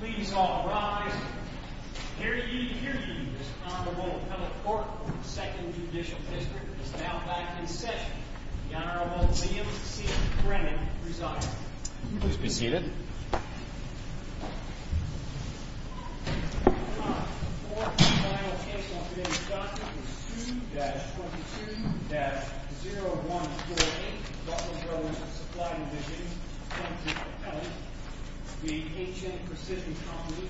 Please all rise. Hear ye, hear ye, this Honorable Appellate Court of the 2nd Judicial District is now back in session. The Honorable Liam C. Brennan presiding. Please be seated. The Court of Final Case on today's document is 2-22-0148, Butler Brothers Supply Division, Appellant v. Appellant, v. HN Precision Company,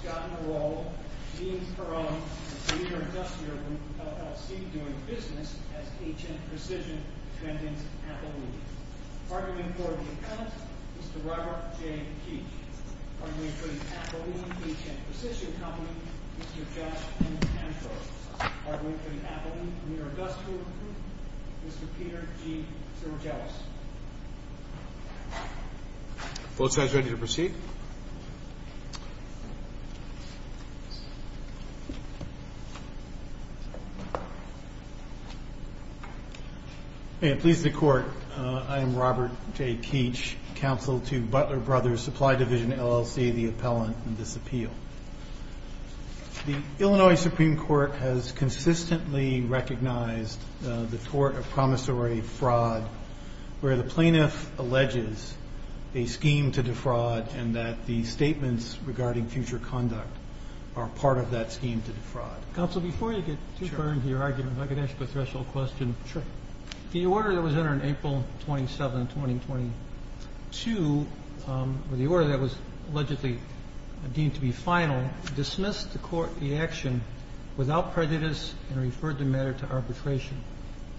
Scott Newell, Dean Perron, and the leader of the industrial group, LLC, doing business as HN Precision, Mr. Brendan Appellant. Arguing for the Appellant, Mr. Robert J. Keech. Arguing for the Appellant v. HN Precision Company, Mr. Josh N. Antrose. Arguing for the Appellant v. Industrial Group, Mr. Peter G. Sergelis. Both sides ready to proceed? It pleases the Court, I am Robert J. Keech, counsel to Butler Brothers Supply Division, LLC, the Appellant in this appeal. The Illinois Supreme Court has consistently recognized the tort of promissory fraud where the plaintiff alleges a scheme to defraud and that the statements regarding future conduct are part of that scheme to defraud. Counsel, before you get too burned to your argument, if I could ask a threshold question. Sure. The order that was entered on April 27, 2022, or the order that was allegedly deemed to be final, dismissed the action without prejudice and referred the matter to arbitration.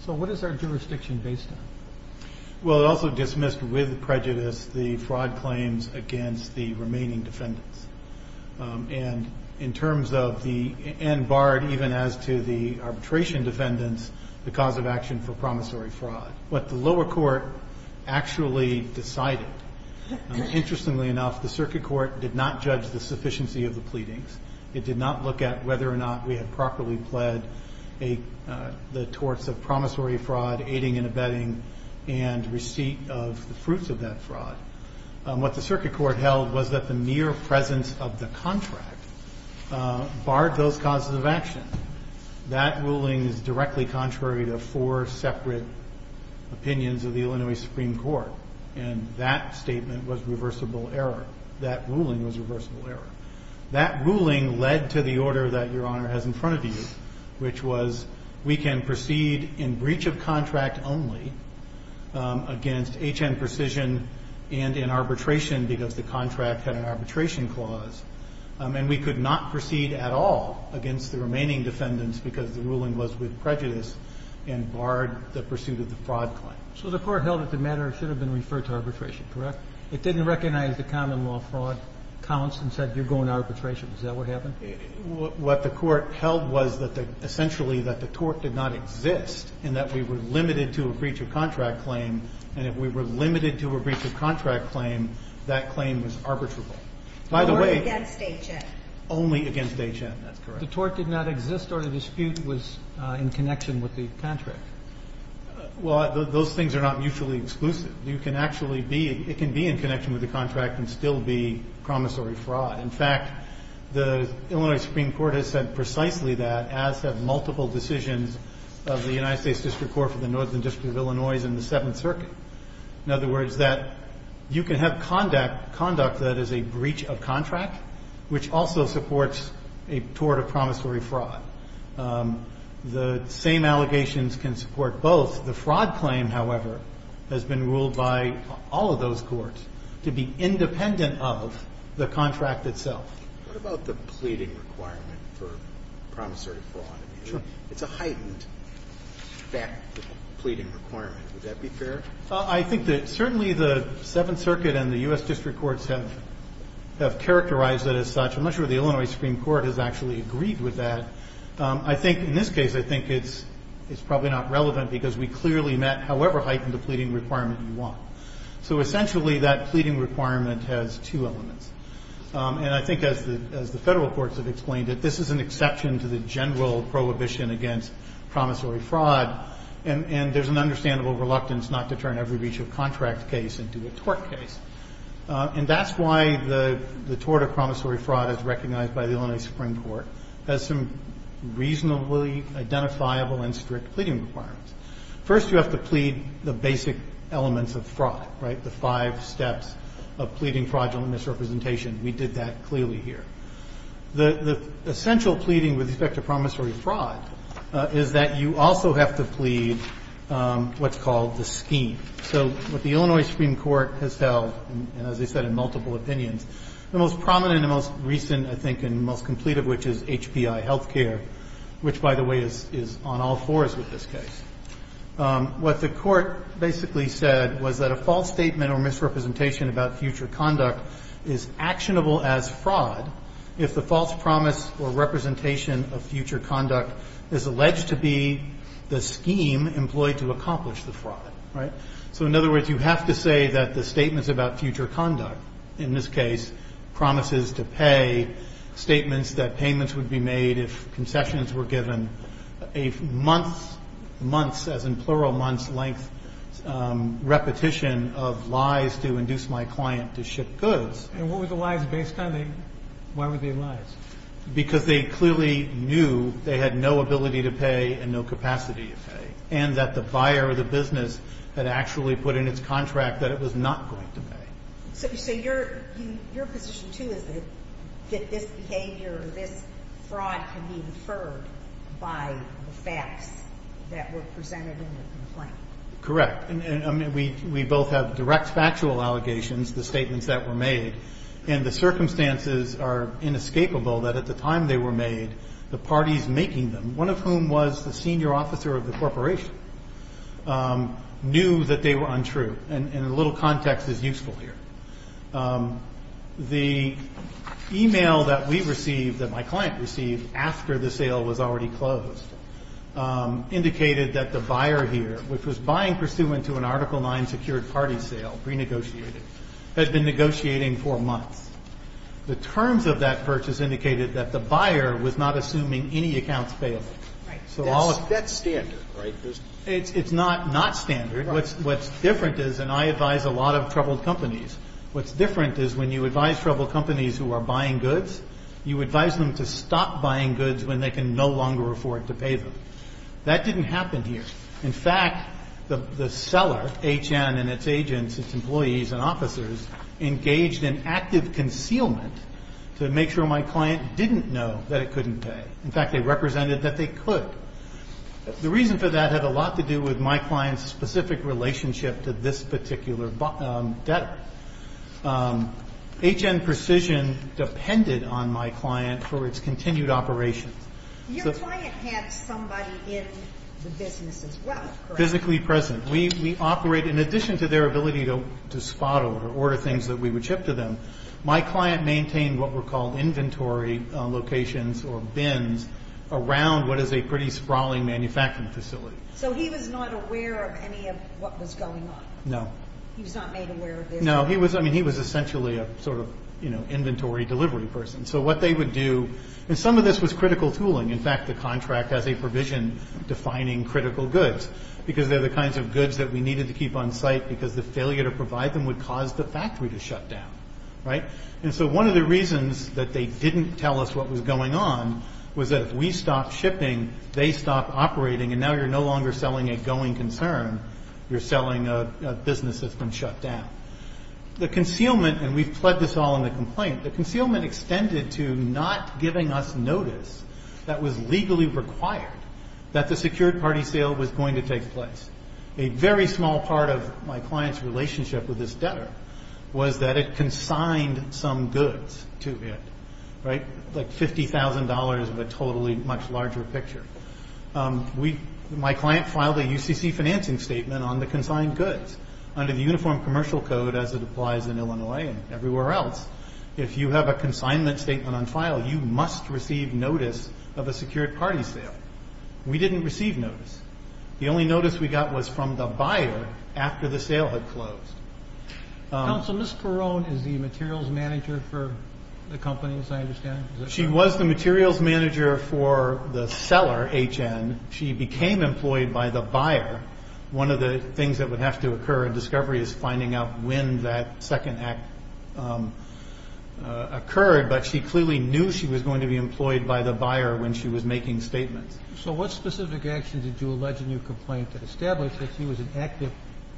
So what is our jurisdiction based on? Well, it also dismissed with prejudice the fraud claims against the remaining defendants. And in terms of the, and barred even as to the arbitration defendants, the cause of action for promissory fraud. What the lower court actually decided, interestingly enough, the circuit court did not judge the sufficiency of the pleadings. It did not look at whether or not we had properly pled the torts of promissory fraud, aiding and abetting, and receipt of the fruits of that fraud. What the circuit court held was that the mere presence of the contract barred those causes of action. That ruling is directly contrary to four separate opinions of the Illinois Supreme Court. And that statement was reversible error. That ruling was reversible error. That ruling led to the order that Your Honor has in front of you, which was we can proceed in breach of contract only against H.N. Precision and in arbitration because the contract had an arbitration clause. And we could not proceed at all against the remaining defendants because the ruling was with prejudice and barred the pursuit of the fraud claim. So the court held that the matter should have been referred to arbitration, correct? It didn't recognize the common law fraud counts and said you're going to arbitration. Is that what happened? What the court held was that essentially that the tort did not exist and that we were limited to a breach of contract claim. And if we were limited to a breach of contract claim, that claim was arbitrable. By the way. Only against H.N. Only against H.N., that's correct. The tort did not exist or the dispute was in connection with the contract. Well, those things are not mutually exclusive. You can actually be, it can be in connection with the contract and still be promissory fraud. In fact, the Illinois Supreme Court has said precisely that, as have multiple decisions of the United States District Court for the Northern District of Illinois and the Seventh Circuit. In other words, that you can have conduct that is a breach of contract, which also supports a tort of promissory fraud. The same allegations can support both. The fraud claim, however, has been ruled by all of those courts to be independent of the contract itself. What about the pleading requirement for promissory fraud? It's a heightened fact, the pleading requirement. Would that be fair? I think that certainly the Seventh Circuit and the U.S. District Courts have characterized it as such. I'm not sure the Illinois Supreme Court has actually agreed with that. I think in this case, I think it's probably not relevant because we clearly met however heightened the pleading requirement you want. So essentially, that pleading requirement has two elements. And I think as the Federal courts have explained it, this is an exception to the general prohibition against promissory fraud. And there's an understandable reluctance not to turn every breach of contract case into a tort case. And that's why the tort of promissory fraud is recognized by the Illinois Supreme Court as some reasonably identifiable and strict pleading requirements. First, you have to plead the basic elements of fraud, right, the five steps of pleading fraudulent misrepresentation. We did that clearly here. The essential pleading with respect to promissory fraud is that you also have to plead what's called the scheme. So what the Illinois Supreme Court has held, and as I said, in multiple opinions, the most prominent and most recent, I think, and most complete of which is HPI Healthcare, which, by the way, is on all fours with this case. What the court basically said was that a false statement or misrepresentation about future conduct is actionable as fraud if the false promise or representation of future conduct is alleged to be the scheme employed to accomplish the fraud, right? So in other words, you have to say that the statements about future conduct, in this case promises to pay, statements that payments would be made if concessions were given, a month's, months as in plural, month's length repetition of lies to induce my client to ship goods. And what were the lies based on? Why were they lies? Because they clearly knew they had no ability to pay and no capacity to pay and that the buyer or the business had actually put in its contract that it was not going to pay. So your position, too, is that this behavior or this fraud can be inferred by the facts that were presented in the complaint? Correct. I mean, we both have direct factual allegations, the statements that were made, and the circumstances are inescapable that at the time they were made, the parties making them, one of whom was the senior officer of the corporation, knew that they were untrue. And a little context is useful here. The e-mail that we received, that my client received after the sale was already closed, indicated that the buyer here, which was buying pursuant to an Article IX secured party sale, renegotiated, had been negotiating for months. The terms of that purchase indicated that the buyer was not assuming any accounts payable. Right. That's standard, right? It's not not standard. What's different is, and I advise a lot of troubled companies, what's different is when you advise troubled companies who are buying goods, you advise them to stop buying goods when they can no longer afford to pay them. That didn't happen here. In fact, the seller, H.N., and its agents, its employees, and officers engaged in active concealment to make sure my client didn't know that it couldn't pay. In fact, they represented that they could. The reason for that had a lot to do with my client's specific relationship to this particular debtor. H.N. precision depended on my client for its continued operations. Your client had somebody in the business as well, correct? Physically present. We operate, in addition to their ability to spot or order things that we would ship to them, my client maintained what were called inventory locations or bins around what is a pretty sprawling manufacturing facility. So he was not aware of any of what was going on? No. He was not made aware of this? No. I mean, he was essentially a sort of inventory delivery person. And so what they would do, and some of this was critical tooling. In fact, the contract has a provision defining critical goods because they're the kinds of goods that we needed to keep on site because the failure to provide them would cause the factory to shut down, right? And so one of the reasons that they didn't tell us what was going on was that if we stopped shipping, they stopped operating, and now you're no longer selling a going concern. You're selling a business that's been shut down. The concealment, and we've pled this all in the complaint, the concealment extended to not giving us notice that was legally required that the secured party sale was going to take place. A very small part of my client's relationship with this debtor was that it consigned some goods to it, right? Like $50,000 of a totally much larger picture. My client filed a UCC financing statement on the consigned goods under the Uniform Commercial Code as it applies in Illinois and everywhere else. If you have a consignment statement on file, you must receive notice of a secured party sale. We didn't receive notice. The only notice we got was from the buyer after the sale had closed. Counsel, Ms. Carone is the materials manager for the company, as I understand. She was the materials manager for the seller, HN. She became employed by the buyer. One of the things that would have to occur in discovery is finding out when that second act occurred, but she clearly knew she was going to be employed by the buyer when she was making statements. So what specific actions did you allege in your complaint to establish that she was an active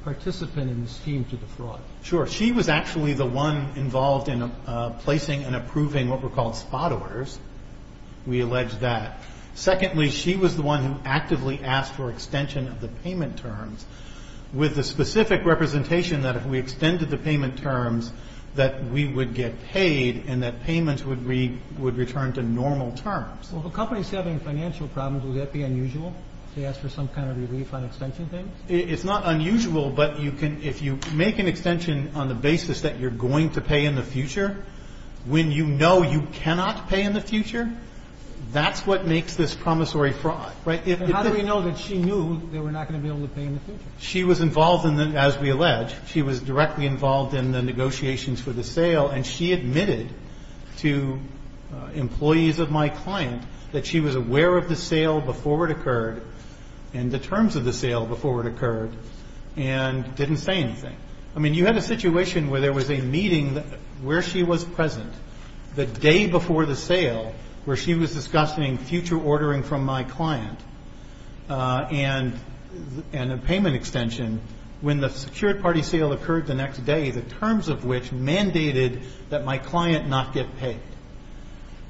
participant in the scheme to the fraud? Sure. She was actually the one involved in placing and approving what were called spot orders. We allege that. Secondly, she was the one who actively asked for extension of the payment terms with the specific representation that if we extended the payment terms, that we would get paid and that payments would return to normal terms. Well, if a company is having financial problems, would that be unusual to ask for some kind of relief on extension things? It's not unusual, but if you make an extension on the basis that you're going to pay in the future, when you know you cannot pay in the future, that's what makes this promissory fraud. How do we know that she knew they were not going to be able to pay in the future? She was involved, as we allege, she was directly involved in the negotiations for the sale and she admitted to employees of my client that she was aware of the sale before it occurred and the terms of the sale before it occurred and didn't say anything. I mean, you had a situation where there was a meeting where she was present the day before the sale where she was discussing future ordering from my client and a payment extension when the secured party sale occurred the next day, the terms of which mandated that my client not get paid.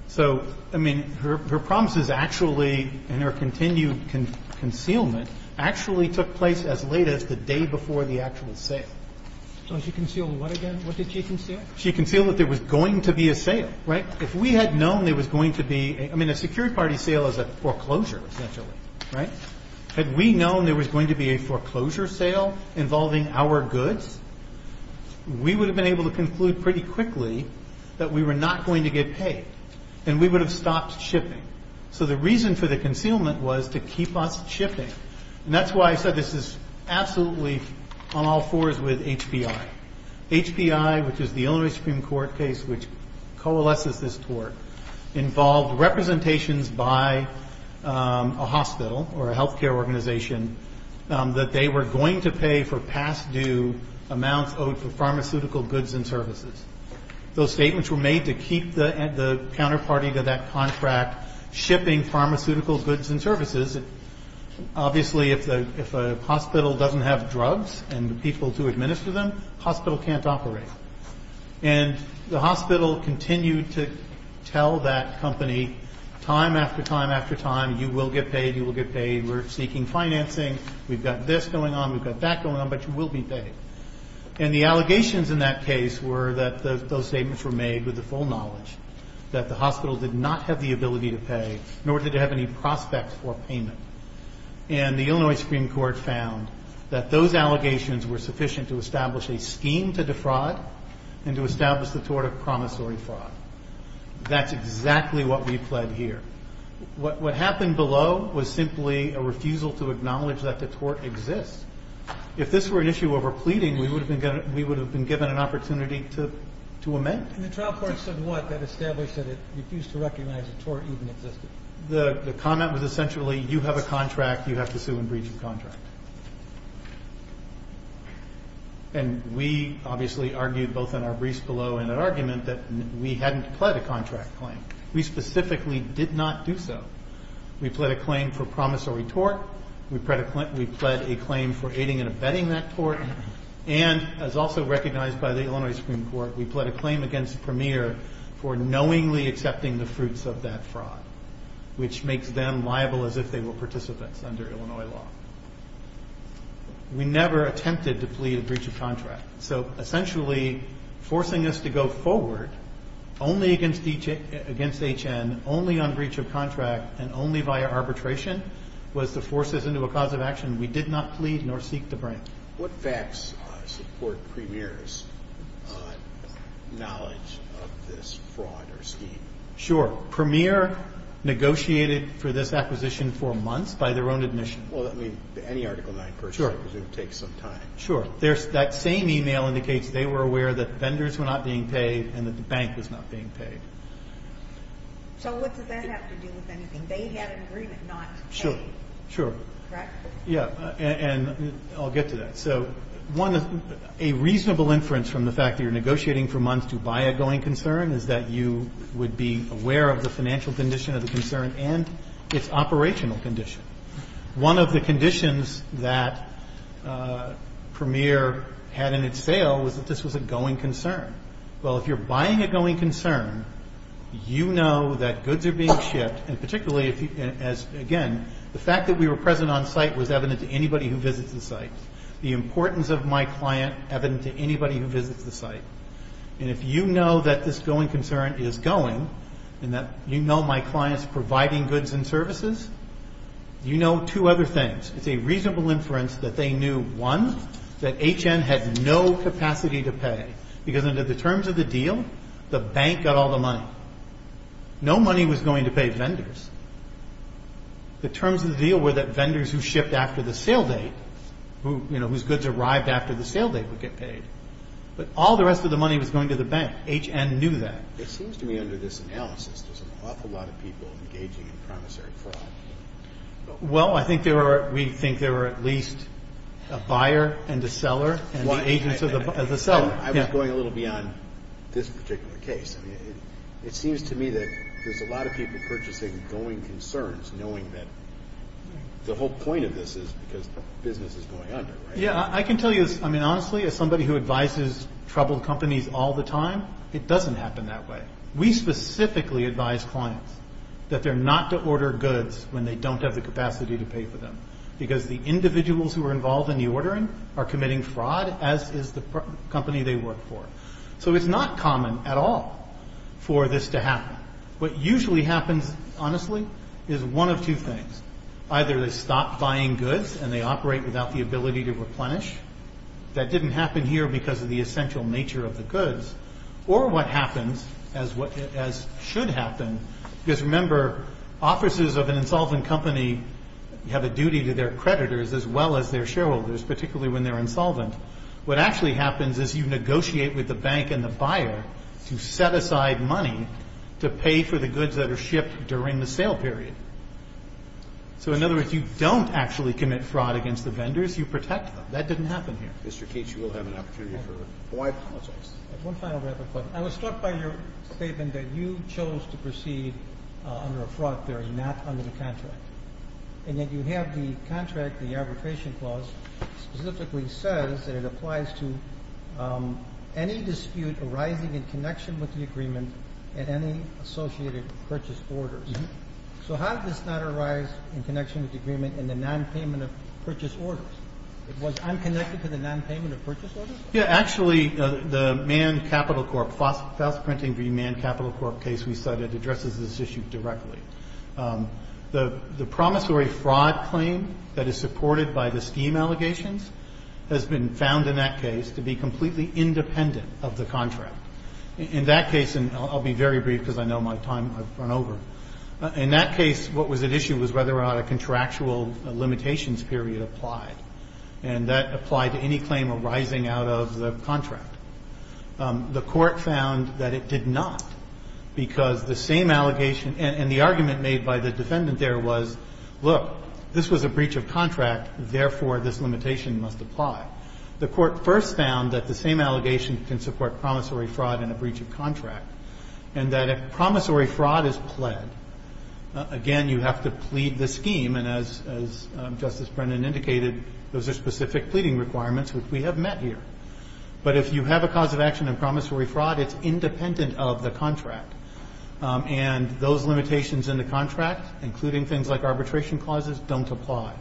So, I mean, her promises actually and her continued concealment actually took place as late as the day before the actual sale. So she concealed what again? What did she conceal? She concealed that there was going to be a sale, right? If we had known there was going to be, I mean, a secured party sale is a foreclosure essentially, right? Had we known there was going to be a foreclosure sale involving our goods, we would have been able to conclude pretty quickly that we were not going to get paid and we would have stopped shipping. So the reason for the concealment was to keep us shipping. And that's why I said this is absolutely on all fours with HPI. HPI, which is the only Supreme Court case which coalesces this tort, involved representations by a hospital or a health care organization that they were going to pay for past due amounts owed for pharmaceutical goods and services. Those statements were made to keep the counterparty to that contract shipping pharmaceutical goods and services. Obviously, if a hospital doesn't have drugs and people to administer them, the hospital can't operate. And the hospital continued to tell that company time after time after time, you will get paid, you will get paid, we're seeking financing, we've got this going on, we've got that going on, but you will be paid. And the allegations in that case were that those statements were made with the full knowledge that the hospital did not have the ability to pay, nor did it have any prospect for payment. And the Illinois Supreme Court found that those allegations were sufficient to establish a scheme to defraud and to establish the tort of promissory fraud. That's exactly what we pled here. What happened below was simply a refusal to acknowledge that the tort exists. If this were an issue over pleading, we would have been given an opportunity to amend it. And the trial court said what? That established that it refused to recognize the tort even existed. The comment was essentially you have a contract, you have to sue and breach the contract. And we obviously argued both in our briefs below in an argument that we hadn't pled a contract claim. We specifically did not do so. We pled a claim for promissory tort, we pled a claim for aiding and abetting that tort, and as also recognized by the Illinois Supreme Court, we pled a claim against Premier for knowingly accepting the fruits of that fraud, which makes them liable as if they were participants under Illinois law. We never attempted to plead a breach of contract. So essentially forcing us to go forward only against H.N., only on breach of contract, and only via arbitration was to force us into a cause of action we did not plead nor seek to bring. What facts support Premier's knowledge of this fraud or scheme? Sure. Premier negotiated for this acquisition for months by their own admission. Well, I mean, any Article IX person would take some time. Sure. That same e-mail indicates they were aware that vendors were not being paid and that the bank was not being paid. So what does that have to do with anything? They had an agreement not to pay. Sure. Correct? Yeah, and I'll get to that. So a reasonable inference from the fact that you're negotiating for months to buy a going concern is that you would be aware of the financial condition of the concern and its operational condition. One of the conditions that Premier had in its sale was that this was a going concern. Well, if you're buying a going concern, you know that goods are being shipped, and particularly, again, the fact that we were present on site was evident to anybody who visits the site. The importance of my client evident to anybody who visits the site. And if you know that this going concern is going and that you know my client's providing goods and services, you know two other things. It's a reasonable inference that they knew, one, that H.N. had no capacity to pay because under the terms of the deal, the bank got all the money. No money was going to pay vendors. The terms of the deal were that vendors who shipped after the sale date, whose goods arrived after the sale date, would get paid. But all the rest of the money was going to the bank. H.N. knew that. It seems to me under this analysis there's an awful lot of people engaging in promissory fraud. Well, we think there are at least a buyer and a seller and the agents of the seller. I was going a little beyond this particular case. I mean, it seems to me that there's a lot of people purchasing going concerns, knowing that the whole point of this is because business is going under, right? Yeah, I can tell you this. I mean, honestly, as somebody who advises troubled companies all the time, it doesn't happen that way. We specifically advise clients that they're not to order goods when they don't have the capacity to pay for them because the individuals who are involved in the ordering are committing fraud, as is the company they work for. So it's not common at all for this to happen. What usually happens, honestly, is one of two things. Either they stop buying goods and they operate without the ability to replenish. That didn't happen here because of the essential nature of the goods. Or what happens, as should happen, because remember, offices of an insolvent company have a duty to their creditors as well as their shareholders, particularly when they're insolvent. What actually happens is you negotiate with the bank and the buyer to set aside money to pay for the goods that are shipped during the sale period. So in other words, you don't actually commit fraud against the vendors. You protect them. That didn't happen here. Mr. Cates, you will have an opportunity for Hawaii politics. One final rapid question. I was struck by your statement that you chose to proceed under a fraud theory, not under the contract, and that you have the contract, the arbitration clause, specifically says that it applies to any dispute arising in connection with the agreement and any associated purchase orders. So how did this not arise in connection with the agreement and the nonpayment of purchase orders? It was unconnected to the nonpayment of purchase orders? Yeah. Actually, the manned capital corp. Fast printing v. manned capital corp. case we cited addresses this issue directly. The promissory fraud claim that is supported by the scheme allegations has been found in that case to be completely independent of the contract. In that case, and I'll be very brief because I know my time, I've run over. In that case, what was at issue was whether or not a contractual limitations period applied, and that applied to any claim arising out of the contract. The court found that it did not because the same allegation and the argument made by the defendant there was, look, this was a breach of contract. Therefore, this limitation must apply. The court first found that the same allegation can support promissory fraud in a breach of contract and that if promissory fraud is pled, again, you have to plead the scheme. And as Justice Brennan indicated, those are specific pleading requirements which we have met here. But if you have a cause of action in promissory fraud, it's independent of the contract. And those limitations in the contract, including things like arbitration clauses, don't apply.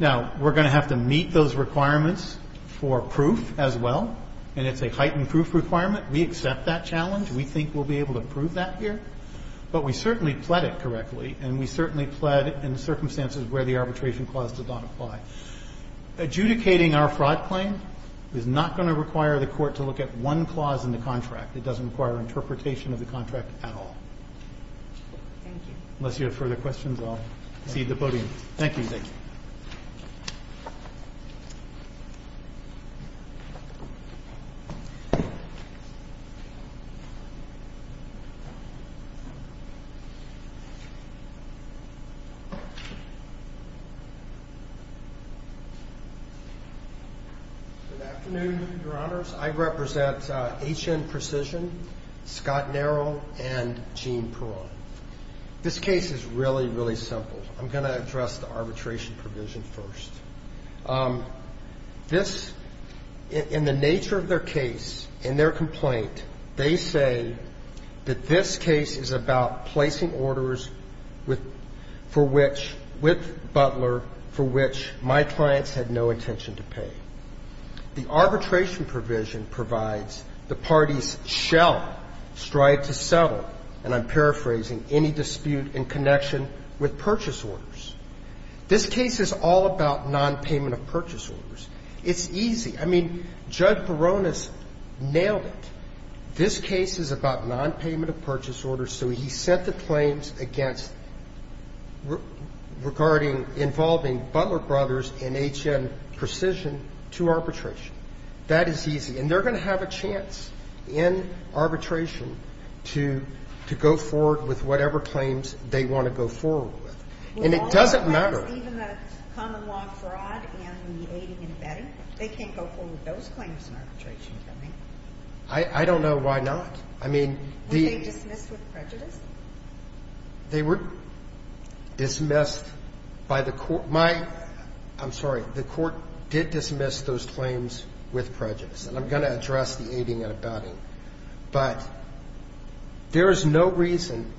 Now, we're going to have to meet those requirements for proof as well, and it's a heightened proof requirement. We accept that challenge. We think we'll be able to prove that here. But we certainly pled it correctly, and we certainly pled in circumstances where the arbitration clause did not apply. Adjudicating our fraud claim is not going to require the court to look at one clause in the contract. It doesn't require interpretation of the contract at all. Unless you have further questions, I'll cede the podium. Thank you. Thank you. Good afternoon, Your Honors. I represent H.N. Precision, Scott Narrow, and Gene Perron. This case is really, really simple. I'm going to address the arbitration provision first. This, in the nature of their case, in their complaint, they say that this case is about placing orders with for which, with Butler, for which my clients had no intention to pay. The arbitration provision provides the parties shall strive to settle, and I'm paraphrasing, any dispute in connection with purchase orders. This case is all about nonpayment of purchase orders. It's easy. I mean, Judge Perron has nailed it. This case is about nonpayment of purchase orders. So he set the claims against regarding involving Butler Brothers and H.N. Precision to arbitration. That is easy. And they're going to have a chance in arbitration to go forward with whatever claims they want to go forward with. And it doesn't matter. Even the common law fraud and the aiding and abetting? They can't go forward with those claims in arbitration, can they? I don't know why not. I mean, the — Were they dismissed with prejudice? They were dismissed by the court. I'm sorry. The court did dismiss those claims with prejudice. And I'm going to address the aiding and abetting. But there is no reason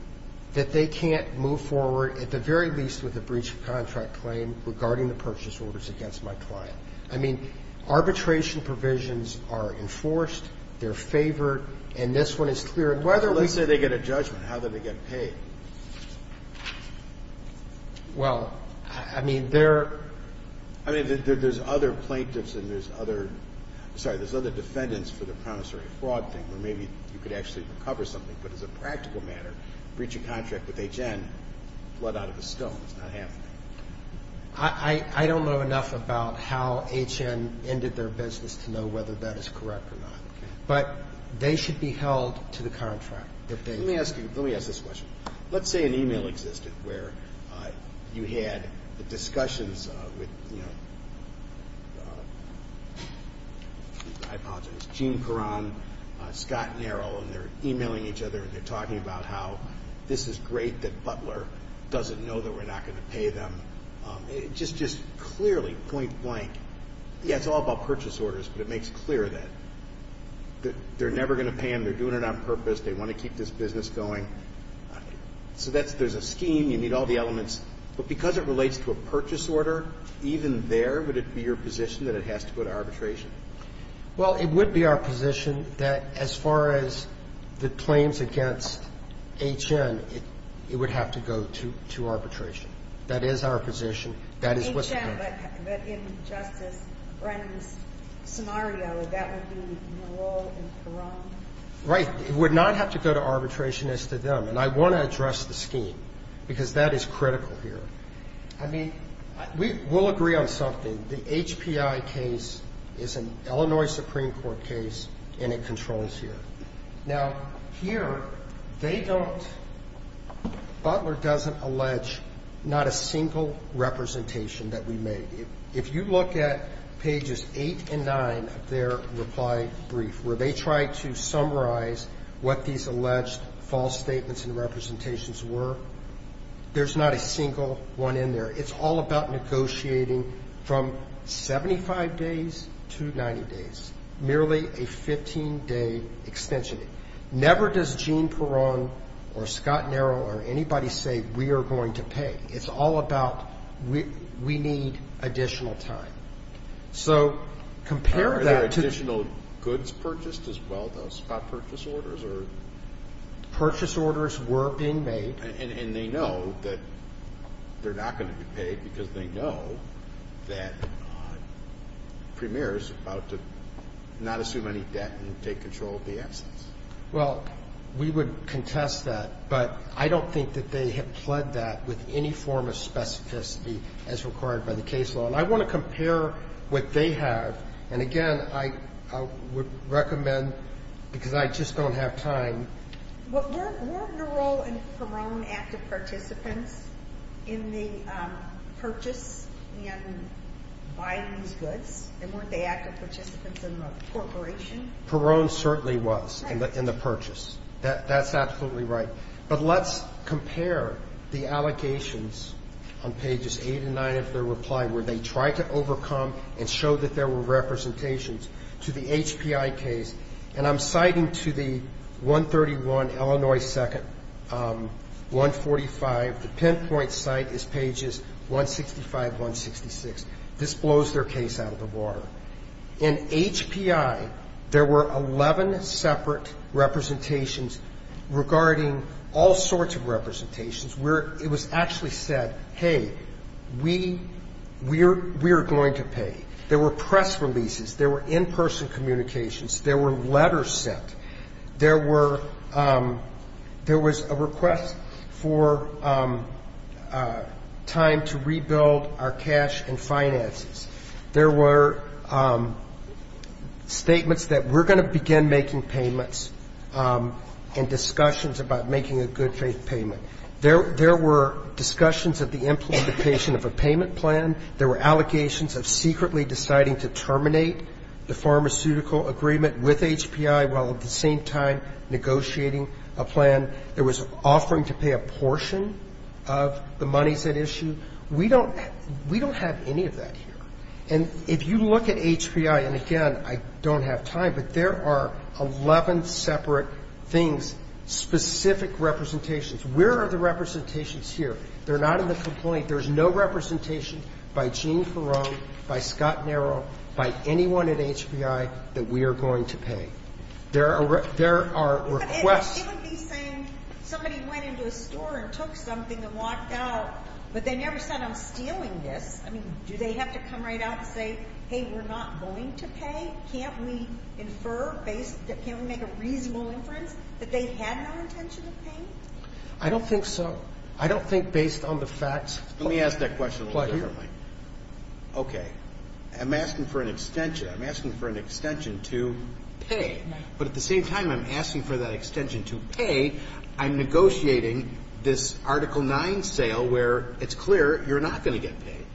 that they can't move forward, at the very least, with a breach of contract claim regarding the purchase orders against my client. I mean, arbitration provisions are enforced. They're favored. And this one is clear. And whether we — Let's say they get a judgment. How do they get paid? Well, I mean, there — I mean, there's other plaintiffs and there's other — sorry, there's other defendants for the promissory fraud thing where maybe you could actually recover something. But as a practical matter, breach of contract with H.N., blood out of a stone. It's not happening. I don't know enough about how H.N. ended their business to know whether that is correct or not. Okay. But they should be held to the contract. Let me ask you — let me ask this question. Let's say an e-mail existed where you had discussions with, you know, I apologize, Gene Perron, Scott Nero, and they're e-mailing each other and they're talking about how this is great that Butler doesn't know that we're not going to pay them. Just clearly, point blank, yeah, it's all about purchase orders, but it makes clear that they're never going to pay them. They're doing it on purpose. They want to keep this business going. So that's — there's a scheme. You need all the elements. But because it relates to a purchase order, even there, would it be your position that it has to go to arbitration? Well, it would be our position that as far as the claims against H.N., it would have to go to arbitration. That is our position. That is what's — H.N., but in Justice Brennan's scenario, that would be Nero and Perron. Right. It would not have to go to arbitration as to them. And I want to address the scheme because that is critical here. I mean, we'll agree on something. The HPI case is an Illinois Supreme Court case and it controls here. Now, here, they don't — Butler doesn't allege not a single representation that we made. If you look at pages 8 and 9 of their reply brief where they try to summarize what these alleged false statements and representations were, there's not a single one in there. It's all about negotiating from 75 days to 90 days, merely a 15-day extension. Never does Gene Perron or Scott Nero or anybody say we are going to pay. It's all about we need additional time. So compare that to — Are there additional goods purchased as well, though? Scott, purchase orders or — Purchase orders were being made. And they know that they're not going to be paid because they know that Premier is about to not assume any debt and take control of the absence. Well, we would contest that, but I don't think that they have pled that with any form of specificity as required by the case law. And I want to compare what they have. And, again, I would recommend, because I just don't have time — Weren't Nero and Perron active participants in the purchase and buying these goods? And weren't they active participants in the corporation? Perron certainly was in the purchase. That's absolutely right. But let's compare the allegations on pages 8 and 9 of their reply where they try to overcome and show that there were representations to the HPI case. And I'm citing to the 131 Illinois 2nd, 145. The pinpoint site is pages 165, 166. This blows their case out of the water. In HPI, there were 11 separate representations regarding all sorts of representations where it was actually said, hey, we are going to pay. There were press releases. There were in-person communications. There were letters sent. There was a request for time to rebuild our cash and finances. There were statements that we're going to begin making payments and discussions about making a good faith payment. There were discussions of the implementation of a payment plan. There were allegations of secretly deciding to terminate the pharmaceutical agreement with HPI while at the same time negotiating a plan that was offering to pay a portion of the monies at issue. We don't have any of that here. And if you look at HPI, and, again, I don't have time, but there are 11 separate things, specific representations. Where are the representations here? They're not in the complaint. There's no representation by Gene Ferone, by Scott Nero, by anyone at HPI that we are going to pay. There are requests. It would be saying somebody went into a store and took something and walked out, but they never said, I'm stealing this. I mean, do they have to come right out and say, hey, we're not going to pay? Can't we infer, can't we make a reasonable inference that they had no intention of paying? I don't think so. I don't think based on the facts. Let me ask that question a little differently. Okay. I'm asking for an extension. I'm asking for an extension to pay. But at the same time, I'm asking for that extension to pay. I'm negotiating this Article 9 sale where it's clear you're not going to get paid.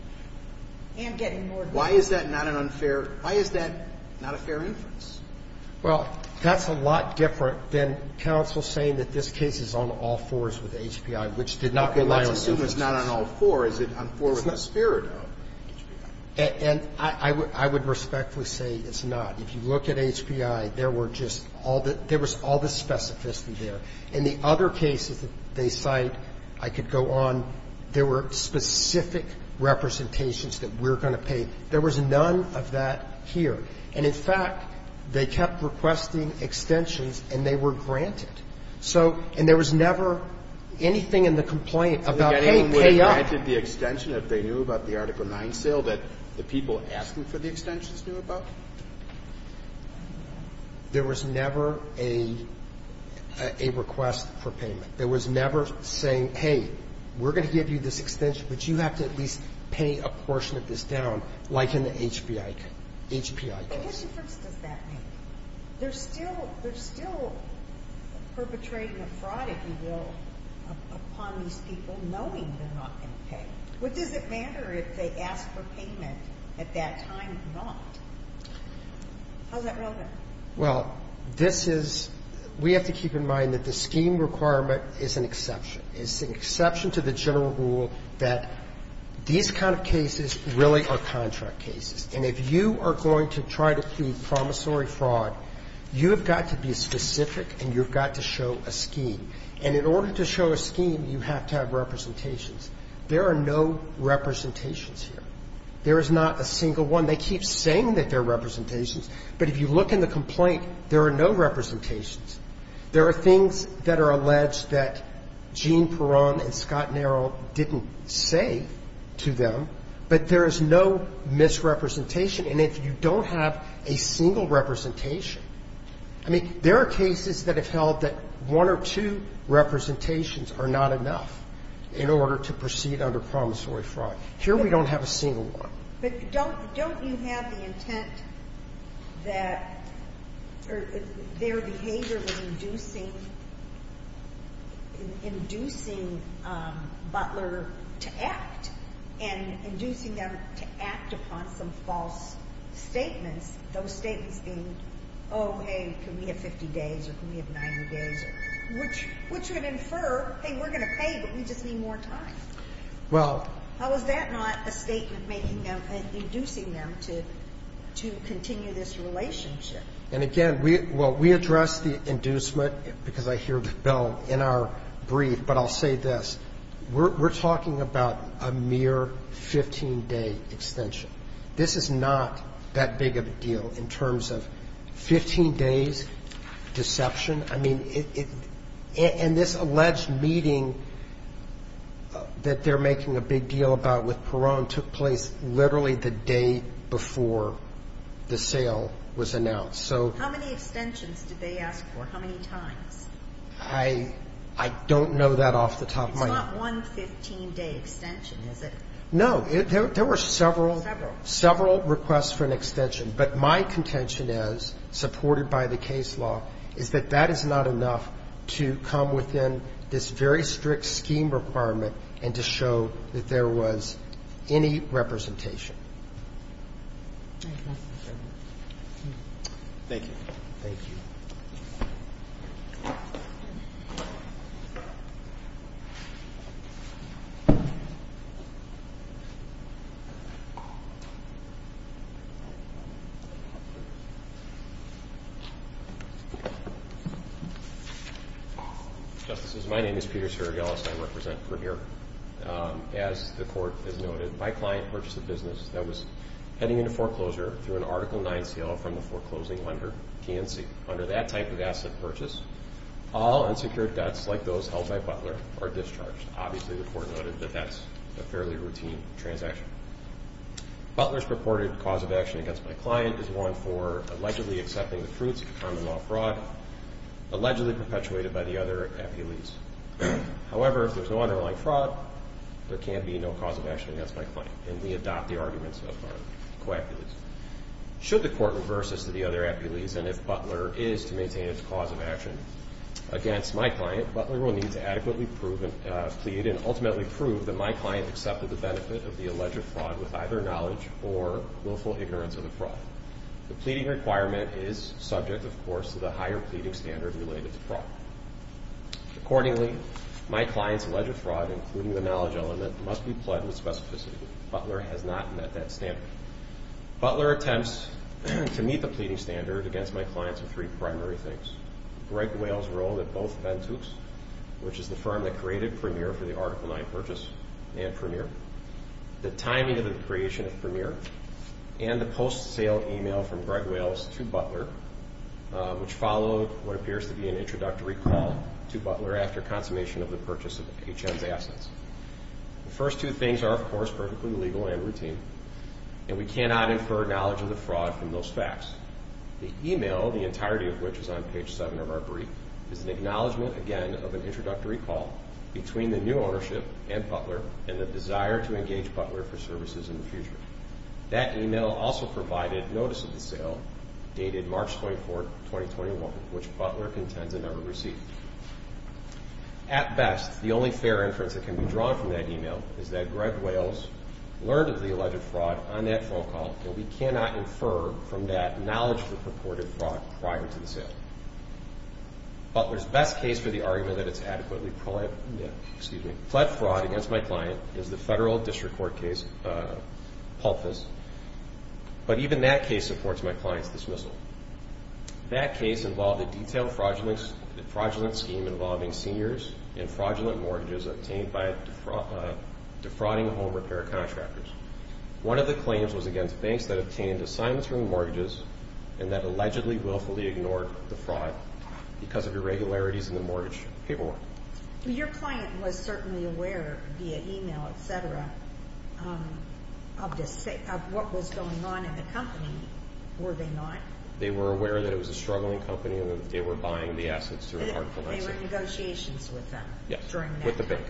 I am getting more than that. Why is that not an unfair? Why is that not a fair inference? Well, that's a lot different than counsel saying that this case is on all fours with HPI, which did not rely on inference. Okay. Let's assume it's not on all four. Is it on four with the spirit of HPI? And I would respectfully say it's not. If you look at HPI, there were just all the, there was all the specificity there. In the other cases that they cite, I could go on, there were specific representations that we're going to pay. There was none of that here. And, in fact, they kept requesting extensions and they were granted. So, and there was never anything in the complaint about, hey, pay up. They granted the extension if they knew about the Article 9 sale that the people asking for the extensions knew about? There was never a request for payment. There was never saying, hey, we're going to give you this extension, but you have to at least pay a portion of this down, like in the HPI case. But what difference does that make? They're still, they're still perpetrating a fraud, if you will, upon these people knowing they're not going to pay. What does it matter if they ask for payment at that time or not? How's that relevant? Well, this is, we have to keep in mind that the scheme requirement is an exception. It's an exception to the general rule that these kind of cases really are contract cases. And if you are going to try to plead promissory fraud, you have got to be specific and you've got to show a scheme. And in order to show a scheme, you have to have representations. There are no representations here. There is not a single one. They keep saying that there are representations, but if you look in the complaint, there are no representations. There are things that are alleged that Gene Peron and Scott Nero didn't say to them, but there is no misrepresentation. And if you don't have a single representation, I mean, there are cases that have held that one or two representations are not enough in order to proceed under promissory fraud. Here we don't have a single one. But don't you have the intent that they're behaviorally inducing, inducing Butler to act and inducing them to act upon some false statements, those statements being, oh, hey, can we have 50 days or can we have 90 days, which would infer, hey, we're going to pay, but we just need more time. Well, how is that not a statement making them, inducing them to continue this relationship? And again, well, we address the inducement, because I hear the bill, in our brief, but I'll say this. We're talking about a mere 15-day extension. This is not that big of a deal in terms of 15 days, deception. I mean, and this alleged meeting that they're making a big deal about with Peron took place literally the day before the sale was announced. How many extensions did they ask for? How many times? I don't know that off the top of my head. It's not one 15-day extension, is it? No. There were several. Several. Several requests for an extension. But my contention is, supported by the case law, is that that is not enough to come within this very strict scheme requirement and to show that there was any representation. Thank you. Thank you. Thank you. Justices, my name is Peter Sergelis. I represent Perdira. As the court has noted, my client purchased a business that was heading into foreclosure through an Article IX sale from the foreclosing lender, KNC. Under that type of asset purchase, all unsecured debts, like those held by Butler, are discharged. Obviously, the court noted that that's a fairly routine transaction. Butler's purported cause of action against my client is one for allegedly accepting the fruits of a common law fraud allegedly perpetuated by the other appellees. However, if there's no underlying fraud, there can be no cause of action against my client, and we adopt the arguments of our co-appellees. Should the court reverse this to the other appellees, and if Butler is to maintain its cause of action against my client, Butler will need to adequately plead and ultimately prove that my client accepted the benefit of the alleged fraud with either knowledge or willful ignorance of the fraud. The pleading requirement is subject, of course, to the higher pleading standard related to fraud. Accordingly, my client's alleged fraud, including the knowledge element, must be pled with specificity. Butler has not met that standard. Butler attempts to meet the pleading standard against my client's three primary things, Greg Wales' role at both Bentucs, which is the firm that created Premier for the Article IX purchase, and Premier, the timing of the creation of Premier, and the post-sale email from Greg Wales to Butler, which followed what appears to be an introductory call to Butler after consummation of the purchase of HM's assets. The first two things are, of course, perfectly legal and routine, and we cannot infer knowledge of the fraud from those facts. The email, the entirety of which is on page seven of our brief, is an acknowledgement, again, of an introductory call between the new ownership and Butler and the desire to engage Butler for services in the future. That email also provided notice of the sale dated March 24, 2021, which Butler contends it never received. At best, the only fair inference that can be drawn from that email is that Greg Wales learned of the alleged fraud on that phone call, and we cannot infer from that knowledge of the purported fraud prior to the sale. Butler's best case for the argument that it's adequately, excuse me, fled fraud against my client is the federal district court case, PulpFist. But even that case supports my client's dismissal. That case involved a detailed fraudulent scheme involving seniors in fraudulent mortgages obtained by defrauding home repair contractors. One of the claims was against banks that obtained assignments from mortgages and that allegedly willfully ignored the fraud because of irregularities in the mortgage paperwork. Well, your client was certainly aware via email, et cetera, of what was going on in the company, were they not? They were aware that it was a struggling company and that they were buying the assets through an article of exit. With the bank.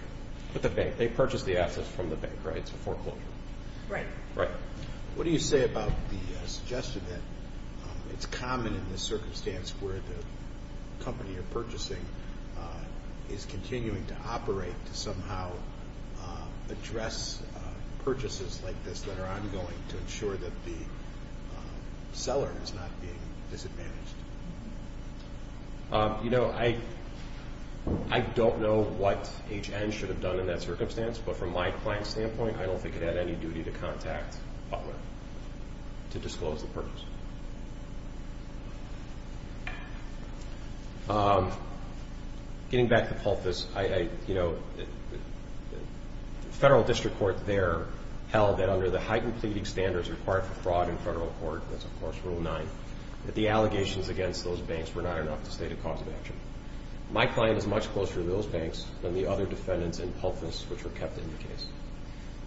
With the bank. They purchased the assets from the bank, right? It's a foreclosure. Right. What do you say about the suggestion that it's common in this circumstance where the company you're purchasing is continuing to operate to somehow address purchases like this that are ongoing to ensure that the seller is not being disadvantaged? You know, I don't know what H.N. should have done in that circumstance, but from my client's standpoint, I don't think it had any duty to contact Butler to disclose the purchase. Getting back to PulpFist, the federal district court there held that under the heightened pleading standards required for fraud in federal court, that's of course Rule 9, that the allegations against those banks were not enough to state a cause of action. My client is much closer to those banks than the other defendants in PulpFist which were kept in the case.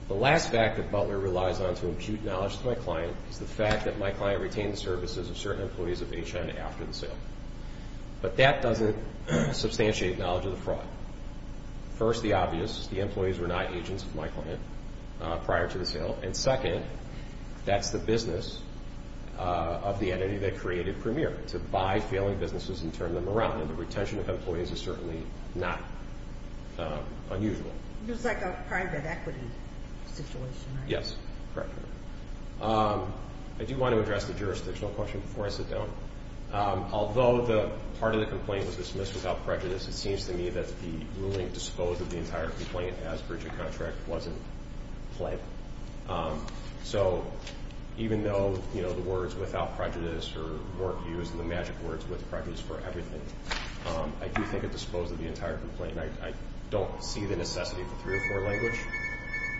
The last fact that Butler relies on to adjudicate knowledge to my client is the fact that my client retained the services of certain employees of H.N. after the sale. But that doesn't substantiate knowledge of the fraud. First, the obvious, the employees were not agents of my client prior to the sale. And second, that's the business of the entity that created Premier, to buy failing businesses and turn them around. And the retention of employees is certainly not unusual. It was like a private equity situation, right? Yes, correct. I do want to address the jurisdictional question before I sit down. Although part of the complaint was dismissed without prejudice, it seems to me that the ruling disposed of the entire complaint as breach of contract wasn't flagged. So even though, you know, the words without prejudice were used and the magic words with prejudice for everything, I do think it disposed of the entire complaint. I don't see the necessity for three or four language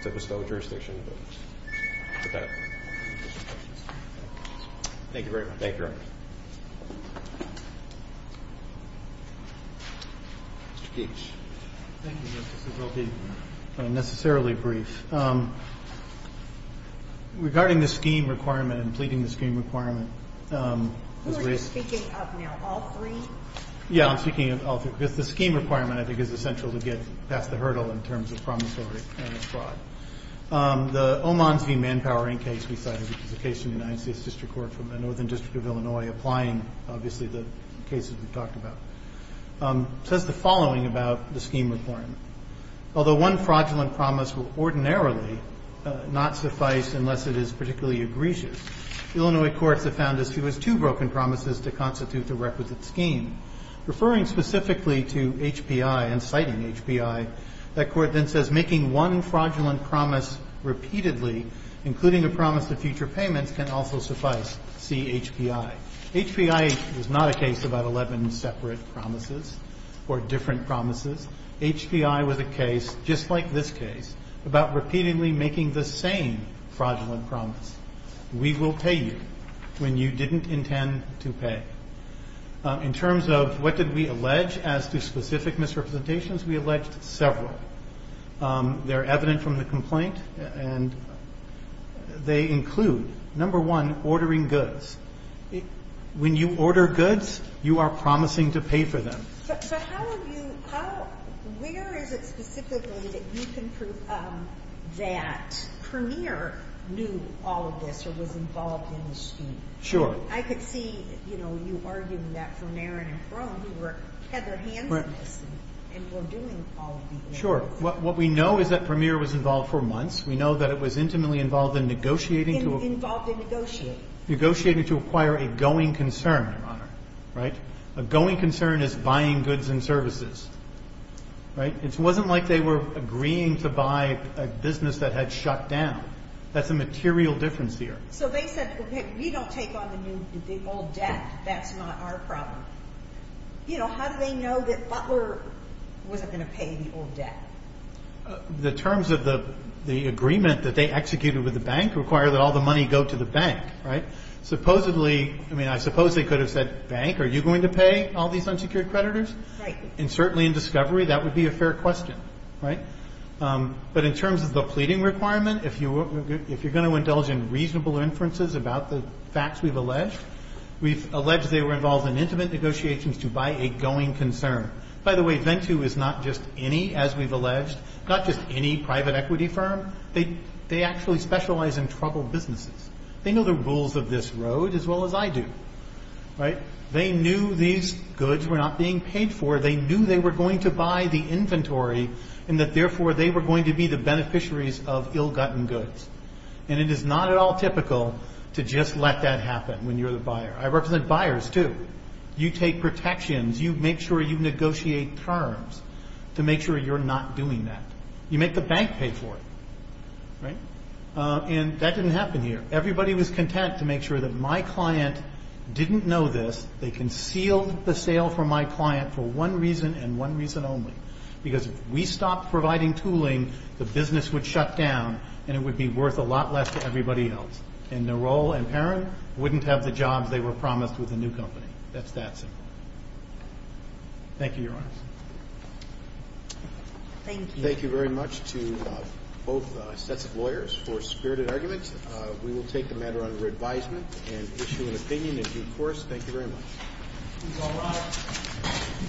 to bestow jurisdiction. Thank you very much. Thank you, Your Honor. Mr. Keech. Thank you, Justice. This will be unnecessarily brief. Regarding the scheme requirement and pleading the scheme requirement. Who are you speaking of now, all three? Yeah, I'm speaking of all three, because the scheme requirement, I think, is essential to get past the hurdle in terms of promissory and fraud. The Oman's v. Manpower Inc. case we cited, which is a case in the United States District Court from the Northern District of Illinois, applying, obviously, the cases we've talked about, says the following about the scheme requirement. Although one fraudulent promise will ordinarily not suffice unless it is particularly egregious, Illinois courts have found as few as two broken promises to constitute the requisite scheme. Referring specifically to HPI and citing HPI, that court then says making one fraudulent promise repeatedly, including a promise of future payments, can also suffice, see HPI. HPI is not a case about 11 separate promises or different promises. HPI was a case, just like this case, about repeatedly making the same fraudulent promise. We will pay you when you didn't intend to pay. In terms of what did we allege as to specific misrepresentations, we alleged several. They're evident from the complaint, and they include, number one, ordering goods. When you order goods, you are promising to pay for them. So where is it specifically that you can prove that Premier knew all of this or was involved in the scheme? Sure. I could see, you know, you arguing that for Marin and Cron, who had their hands in this and were doing all of these things. Sure. What we know is that Premier was involved for months. We know that it was intimately involved in negotiating. Involved in negotiating. Negotiating to acquire a going concern, Your Honor. Right? A going concern is buying goods and services. Right? It wasn't like they were agreeing to buy a business that had shut down. That's a material difference here. So they said, okay, we don't take on the old debt. That's not our problem. You know, how do they know that Butler wasn't going to pay the old debt? The terms of the agreement that they executed with the bank require that all the money go to the bank. Right? Supposedly, I mean, I suppose they could have said, bank, are you going to pay all these unsecured creditors? Right. And certainly in discovery, that would be a fair question. Right? But in terms of the pleading requirement, if you're going to indulge in reasonable inferences about the facts we've alleged, we've alleged they were involved in intimate negotiations to buy a going concern. By the way, Ventu is not just any, as we've alleged, not just any private equity firm. They actually specialize in troubled businesses. They know the rules of this road as well as I do. Right? They knew these goods were not being paid for. They knew they were going to buy the inventory and that, therefore, they were going to be the beneficiaries of ill-gotten goods. And it is not at all typical to just let that happen when you're the buyer. I represent buyers, too. You take protections. You make sure you negotiate terms to make sure you're not doing that. You make the bank pay for it. Right? And that didn't happen here. Everybody was content to make sure that my client didn't know this. They concealed the sale from my client for one reason and one reason only. Because if we stopped providing tooling, the business would shut down and it would be worth a lot less to everybody else. And Narell and Perrin wouldn't have the jobs they were promised with the new company. That's that simple. Thank you, Your Honor. Thank you. Thank you very much to both sets of lawyers for spirited arguments. We will take the matter under advisement and issue an opinion in due course. Thank you very much.